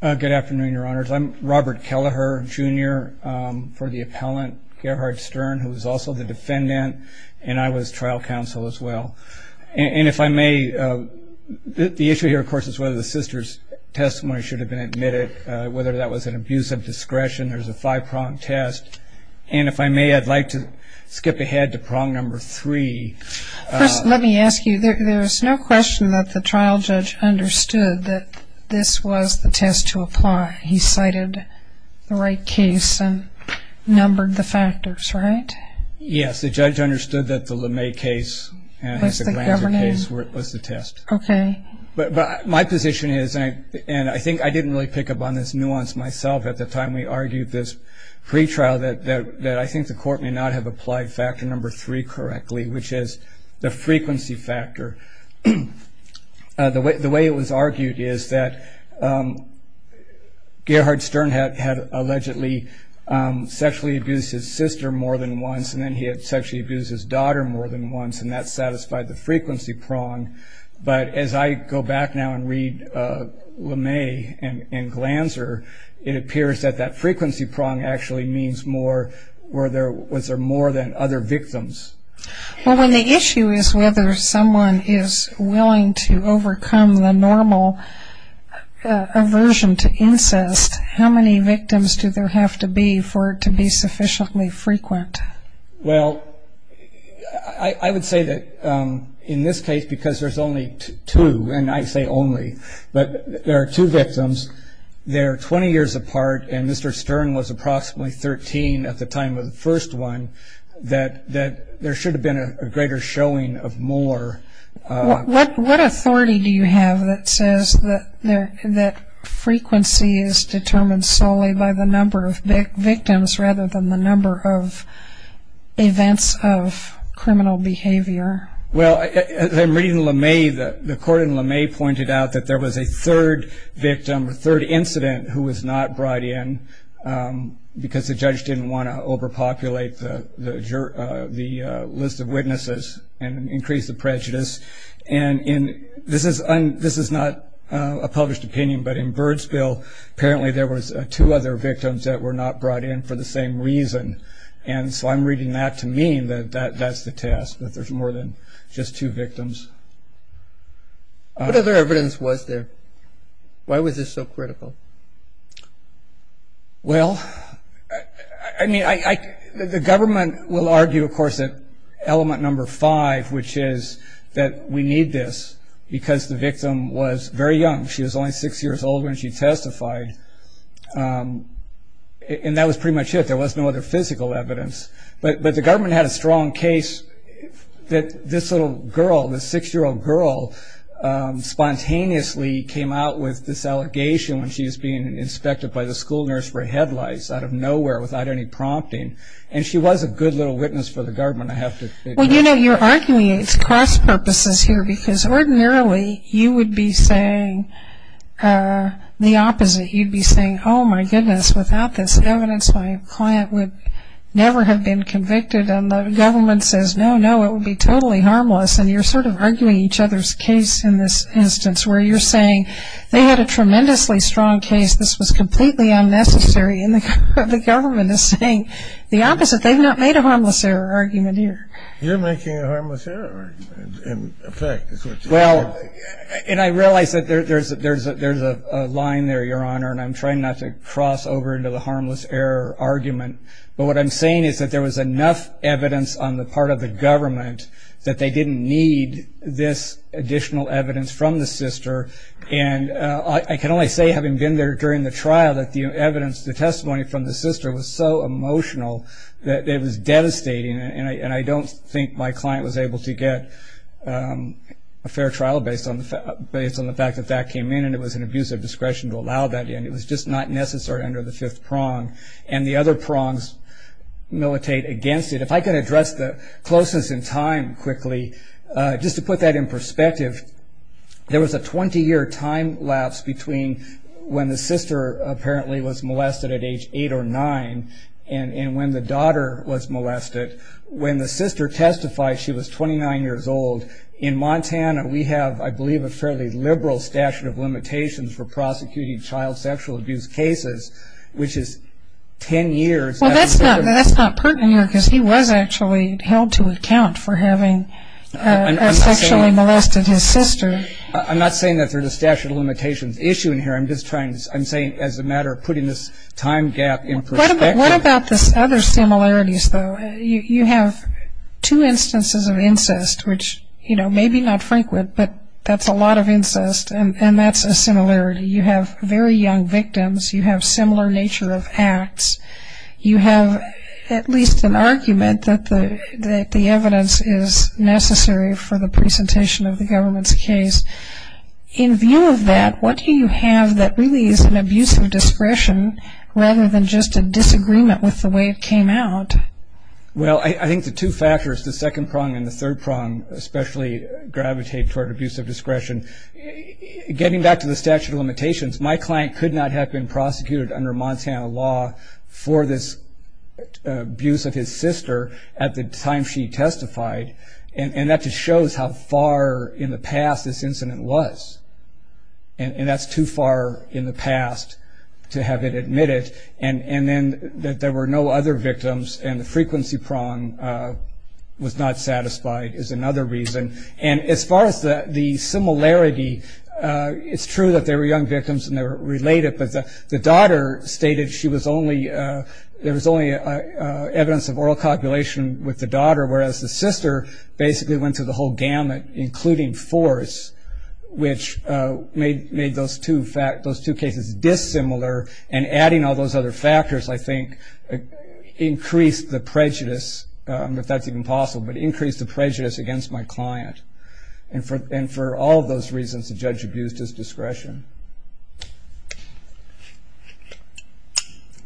Good afternoon, your honors. I'm Robert Kelleher, Jr., for the appellant Gerhard Stern, who is also the defendant, and I was trial counsel as well. And if I may, the issue here, of course, is whether the sister's testimony should have been admitted, whether that was an abuse of discretion. There's a five-prong test. And if I may, I'd like to skip ahead to prong number three. First, let me ask you, there's no question that the trial judge understood that this was the test to apply. He cited the right case and numbered the factors, right? Yes, the judge understood that the LeMay case and the Glanzer case was the test. Okay. But my position is, and I think I didn't really pick up on this nuance myself at the time we argued this pretrial, that I think the court may not have applied factor number three correctly, which is the frequency factor. The way it was argued is that Gerhard Stern had allegedly sexually abused his sister more than once, and then he had sexually abused his daughter more than once, and that satisfied the frequency prong. But as I go back now and read LeMay and Glanzer, it appears that that frequency prong actually means was there more than other victims. Well, when the issue is whether someone is willing to overcome the normal aversion to incest, how many victims do there have to be for it to be sufficiently frequent? Well, I would say that in this case, because there's only two, and I say only, but there are two victims. They're 20 years apart, and Mr. Stern was approximately 13 at the time of the first one, that there should have been a greater showing of more. What authority do you have that says that frequency is determined solely by the number of victims rather than the number of events of criminal behavior? Well, in reading LeMay, the court in LeMay pointed out that there was a third victim, a third incident who was not brought in because the judge didn't want to overpopulate the list of witnesses and increase the prejudice. And this is not a published opinion, but in Bird's bill, apparently there was two other victims that were not brought in for the same reason. And so I'm reading that to mean that that's the test, that there's more than just two victims. What other evidence was there? Why was this so critical? Well, I mean, the government will argue, of course, that element number five, which is that we need this because the victim was very young. She was only six years old when she testified. And that was pretty much it. There was no other physical evidence. But the government had a strong case that this little girl, this six-year-old girl, spontaneously came out with this allegation when she was being inspected by the school nurse for headlights out of nowhere without any prompting. And she was a good little witness for the government, I have to say. Well, you know, you're arguing it's cross-purposes here because ordinarily you would be saying the opposite. You'd be saying, oh, my goodness, without this evidence, my client would never have been convicted. And the government says, no, no, it would be totally harmless. And you're sort of arguing each other's case in this instance, where you're saying they had a tremendously strong case. This was completely unnecessary. And the government is saying the opposite. They've not made a harmless error argument here. You're making a harmless error argument, in effect, is what you're saying. Well, and I realize that there's a line there, Your Honor, and I'm trying not to cross over into the harmless error argument. But what I'm saying is that there was enough evidence on the part of the government that they didn't need this additional evidence from the sister. And I can only say, having been there during the trial, that the evidence, the testimony from the sister was so emotional that it was devastating. And I don't think my client was able to get a fair trial based on the fact that that came in and it was an abuse of discretion to allow that in. It was just not necessary under the fifth prong. And the other prongs militate against it. If I could address the closeness in time quickly, just to put that in perspective, there was a 20-year time lapse between when the sister apparently was molested at age 8 or 9 and when the daughter was molested. When the sister testified, she was 29 years old. In Montana, we have, I believe, a fairly liberal statute of limitations for prosecuting child sexual abuse cases, which is 10 years. Well, that's not pertinent here because he was actually held to account for having sexually molested his sister. I'm not saying that there's a statute of limitations issue in here. I'm saying as a matter of putting this time gap in perspective. What about the other similarities, though? You have two instances of incest, which, you know, maybe not frequent, but that's a lot of incest, and that's a similarity. You have very young victims. You have similar nature of acts. You have at least an argument that the evidence is necessary for the presentation of the government's case. In view of that, what do you have that really is an abuse of discretion rather than just a disagreement with the way it came out? Well, I think the two factors, the second prong and the third prong especially gravitate toward abuse of discretion. Getting back to the statute of limitations, my client could not have been prosecuted under Montana law for this abuse of his sister at the time she testified, and that just shows how far in the past this incident was, and that's too far in the past to have it admitted. And then that there were no other victims and the frequency prong was not satisfied is another reason. And as far as the similarity, it's true that there were young victims and they were related, but the daughter stated there was only evidence of oral copulation with the daughter, whereas the sister basically went to the whole gamut, including fours, which made those two cases dissimilar, and adding all those other factors, I think, increased the prejudice, I don't know if that's even possible, but increased the prejudice against my client. And for all of those reasons, the judge abused his discretion.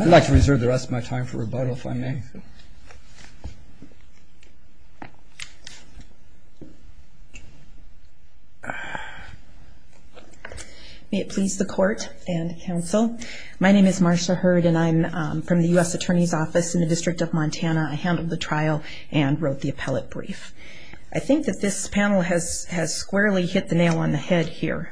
I'd like to reserve the rest of my time for rebuttal, if I may. May it please the court and counsel. My name is Marcia Hurd, and I'm from the U.S. Attorney's Office in the District of Montana. I handled the trial and wrote the appellate brief. I think that this panel has squarely hit the nail on the head here.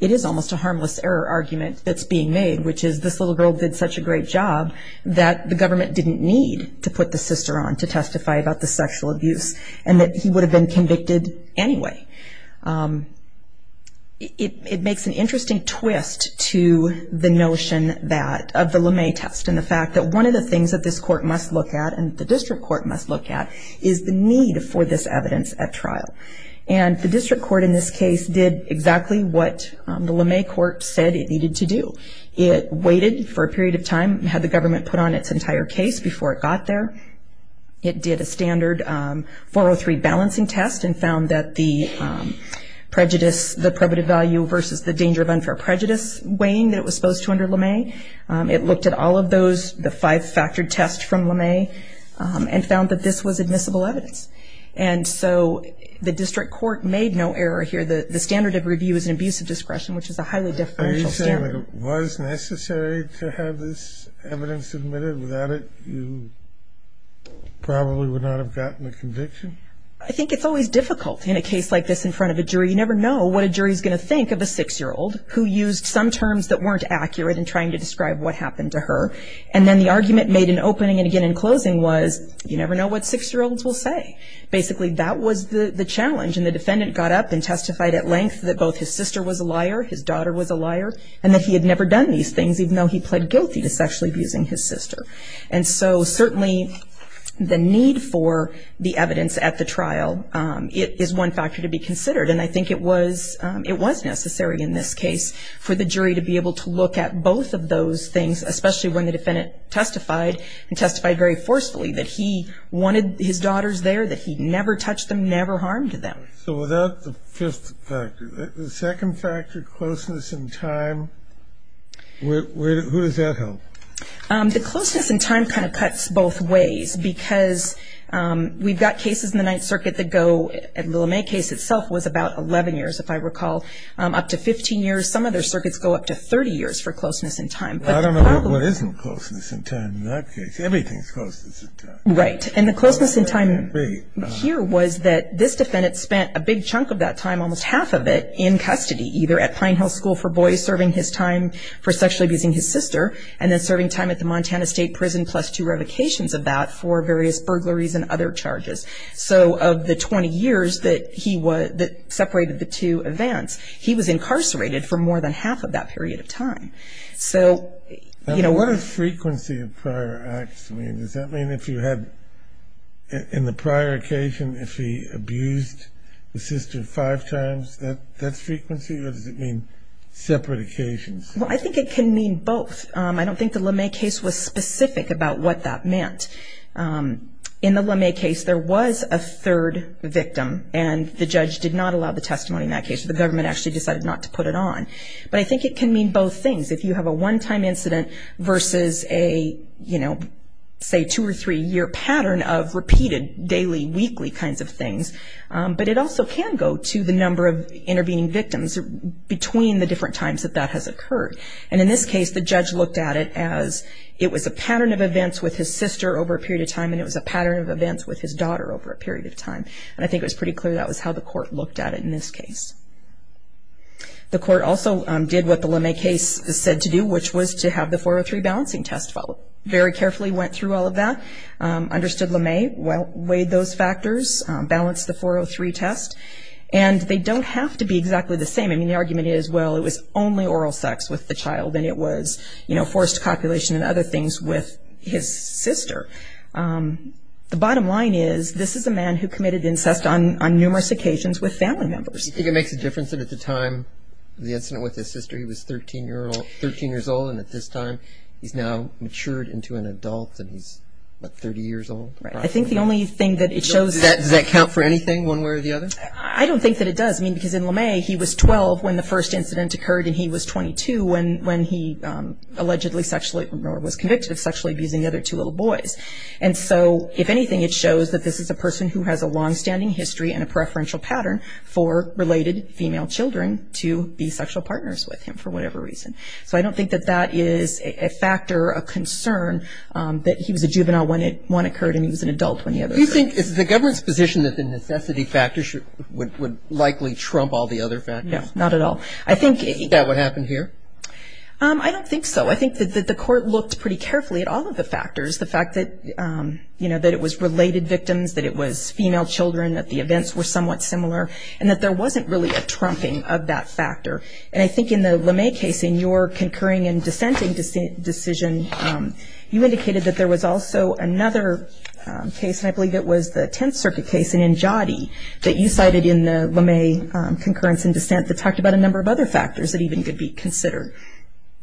It is almost a harmless error argument that's being made, which is this little girl did such a great job that the government didn't need to put the sister on to testify about the sexual abuse, and that he would have been convicted anyway. It makes an interesting twist to the notion of the LeMay test, and the fact that one of the things that this court must look at, and the district court must look at, is the need for this evidence at trial. And the district court in this case did exactly what the LeMay court said it needed to do. It waited for a period of time, had the government put on its entire case before it got there. It did a standard 403 balancing test and found that the prejudice, the probative value versus the danger of unfair prejudice weighing that it was supposed to under LeMay. It looked at all of those, the five-factored test from LeMay, and found that this was admissible evidence. And so the district court made no error here. The standard of review is an abuse of discretion, which is a highly differential standard. If it was necessary to have this evidence submitted without it, you probably would not have gotten a conviction. I think it's always difficult in a case like this in front of a jury. You never know what a jury is going to think of a six-year-old who used some terms that weren't accurate in trying to describe what happened to her. And then the argument made in opening and again in closing was, you never know what six-year-olds will say. Basically, that was the challenge. And the defendant got up and testified at length that both his sister was a liar, his daughter was a liar, and that he had never done these things, even though he pled guilty to sexually abusing his sister. And so certainly the need for the evidence at the trial is one factor to be considered. And I think it was necessary in this case for the jury to be able to look at both of those things, especially when the defendant testified and testified very forcefully, that he wanted his daughters there, that he never touched them, never harmed them. So without the fifth factor, the second factor, closeness in time, where does that help? The closeness in time kind of cuts both ways, because we've got cases in the Ninth Circuit that go, the LeMay case itself was about 11 years, if I recall, up to 15 years. Some other circuits go up to 30 years for closeness in time. I don't know what isn't closeness in time in that case. Everything is closeness in time. Right. And the closeness in time here was that this defendant spent a big chunk of that time, almost half of it, in custody, either at Pine Hill School for Boys, serving his time for sexually abusing his sister, and then serving time at the Montana State Prison, plus two revocations of that for various burglaries and other charges. So of the 20 years that separated the two events, he was incarcerated for more than half of that period of time. What does frequency of prior acts mean? Does that mean if you had, in the prior occasion, if he abused his sister five times, that's frequency? Or does it mean separate occasions? Well, I think it can mean both. I don't think the LeMay case was specific about what that meant. In the LeMay case, there was a third victim, and the judge did not allow the testimony in that case. The government actually decided not to put it on. But I think it can mean both things. If you have a one-time incident versus a, you know, say two- or three-year pattern of repeated daily, weekly kinds of things. But it also can go to the number of intervening victims between the different times that that has occurred. And in this case, the judge looked at it as it was a pattern of events with his sister over a period of time, and it was a pattern of events with his daughter over a period of time. And I think it was pretty clear that was how the court looked at it in this case. The court also did what the LeMay case said to do, which was to have the 403 balancing test followed. Very carefully went through all of that, understood LeMay, weighed those factors, balanced the 403 test. And they don't have to be exactly the same. I mean, the argument is, well, it was only oral sex with the child, and it was, you know, forced copulation and other things with his sister. The bottom line is this is a man who committed incest on numerous occasions with family members. Do you think it makes a difference that at the time of the incident with his sister, he was 13 years old, and at this time he's now matured into an adult, and he's, what, 30 years old? I think the only thing that it shows – Does that count for anything, one way or the other? I don't think that it does. I mean, because in LeMay, he was 12 when the first incident occurred, and he was 22 when he allegedly sexually – or was convicted of sexually abusing the other two little boys. And so, if anything, it shows that this is a person who has a longstanding history and a preferential pattern for related female children to be sexual partners with him for whatever reason. So I don't think that that is a factor of concern that he was a juvenile when it – when it occurred and he was an adult when the other occurred. Do you think it's the government's position that the necessity factor would likely trump all the other factors? No, not at all. I think – Is that what happened here? I don't think so. I think that the court looked pretty carefully at all of the factors, the fact that, you know, that it was related victims, that it was female children, that the events were somewhat similar, and that there wasn't really a trumping of that factor. And I think in the LeMay case, in your concurring and dissenting decision, you indicated that there was also another case, and I believe it was the Tenth Circuit case in Njaadi, that you cited in the LeMay concurrence and dissent that talked about a number of other factors that even could be considered.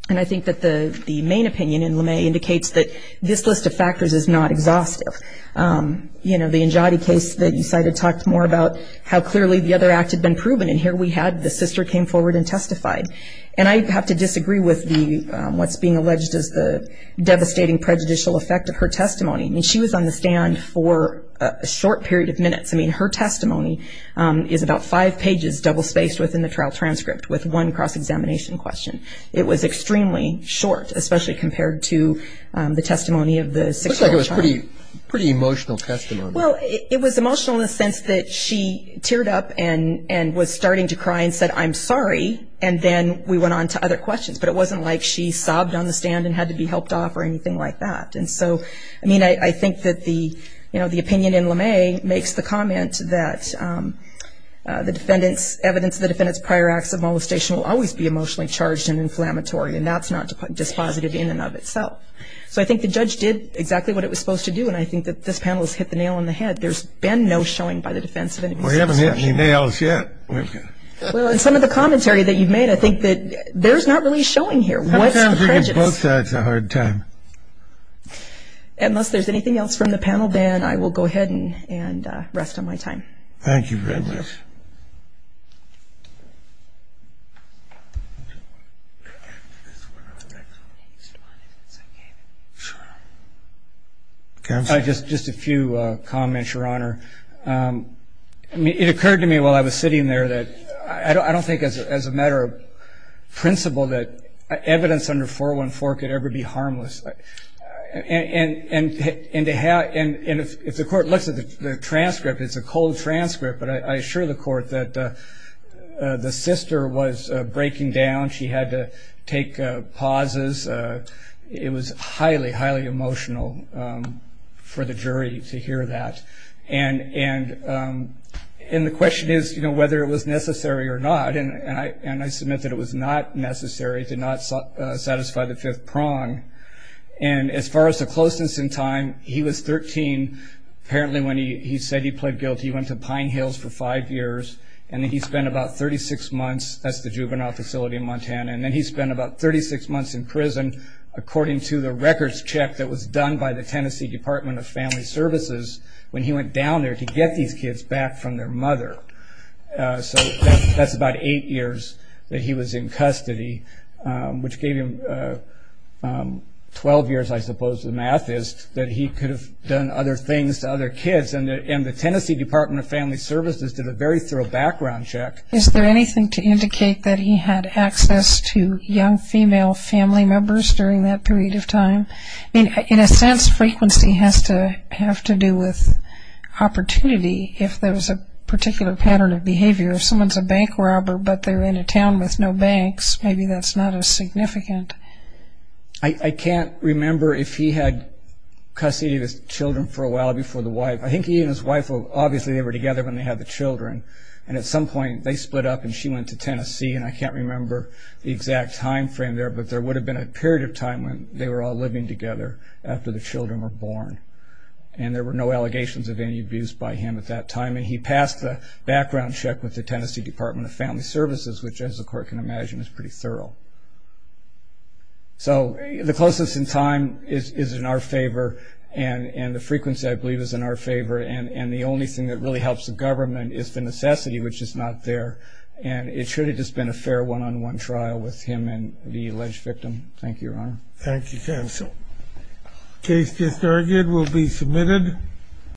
And I think that the main opinion in LeMay indicates that this list of factors is not exhaustive. You know, the Njaadi case that you cited talked more about how clearly the other act had been proven, and here we had the sister came forward and testified. And I have to disagree with what's being alleged as the devastating prejudicial effect of her testimony. I mean, she was on the stand for a short period of minutes. I mean, her testimony is about five pages double-spaced within the trial transcript with one cross-examination question. It looks like it was a pretty emotional testimony. Well, it was emotional in the sense that she teared up and was starting to cry and said, I'm sorry, and then we went on to other questions. But it wasn't like she sobbed on the stand and had to be helped off or anything like that. And so, I mean, I think that the opinion in LeMay makes the comment that the evidence of the defendant's prior acts of molestation will always be emotionally charged and inflammatory, and that's not dispositive in and of itself. So I think the judge did exactly what it was supposed to do, and I think that this panel has hit the nail on the head. There's been no showing by the defense of any sexual assault. We haven't hit any nails yet. Well, in some of the commentary that you've made, I think that there's not really showing here. What's prejudice? I think on both sides a hard time. Unless there's anything else from the panel, Ben, I will go ahead and rest on my time. Thank you very much. Thank you. Just a few comments, Your Honor. It occurred to me while I was sitting there that I don't think as a matter of principle that evidence under 414 could ever be harmless. And if the court looks at the transcript, it's a cold transcript, but I assure the court that the sister was breaking down. She had to take pauses. It was highly, highly emotional for the jury to hear that. And the question is whether it was necessary or not, and I submit that it was not necessary. It did not satisfy the fifth prong. And as far as the closeness in time, he was 13. Apparently when he said he pled guilty, he went to Pine Hills for five years, and then he spent about 36 months. That's the juvenile facility in Montana. And then he spent about 36 months in prison, according to the records check that was done by the Tennessee Department of Family Services, when he went down there to get these kids back from their mother. So that's about eight years that he was in custody, which gave him 12 years, I suppose, the math is that he could have done other things to other kids. And the Tennessee Department of Family Services did a very thorough background check. Is there anything to indicate that he had access to young female family members during that period of time? I mean, in a sense, frequency has to have to do with opportunity if there was a particular pattern of behavior. If someone's a bank robber but they're in a town with no banks, maybe that's not as significant. I can't remember if he had custody of his children for a while before the wife. I think he and his wife, obviously they were together when they had the children, and at some point they split up and she went to Tennessee. And I can't remember the exact time frame there, but there would have been a period of time when they were all living together after the children were born. And there were no allegations of any abuse by him at that time. And he passed the background check with the Tennessee Department of Family Services, which, as the court can imagine, is pretty thorough. So the closeness in time is in our favor, and the frequency, I believe, is in our favor. And the only thing that really helps the government is the necessity, which is not there. And it should have just been a fair one-on-one trial with him and the alleged victim. Thank you, Your Honor. Thank you, counsel. The case just argued will be submitted.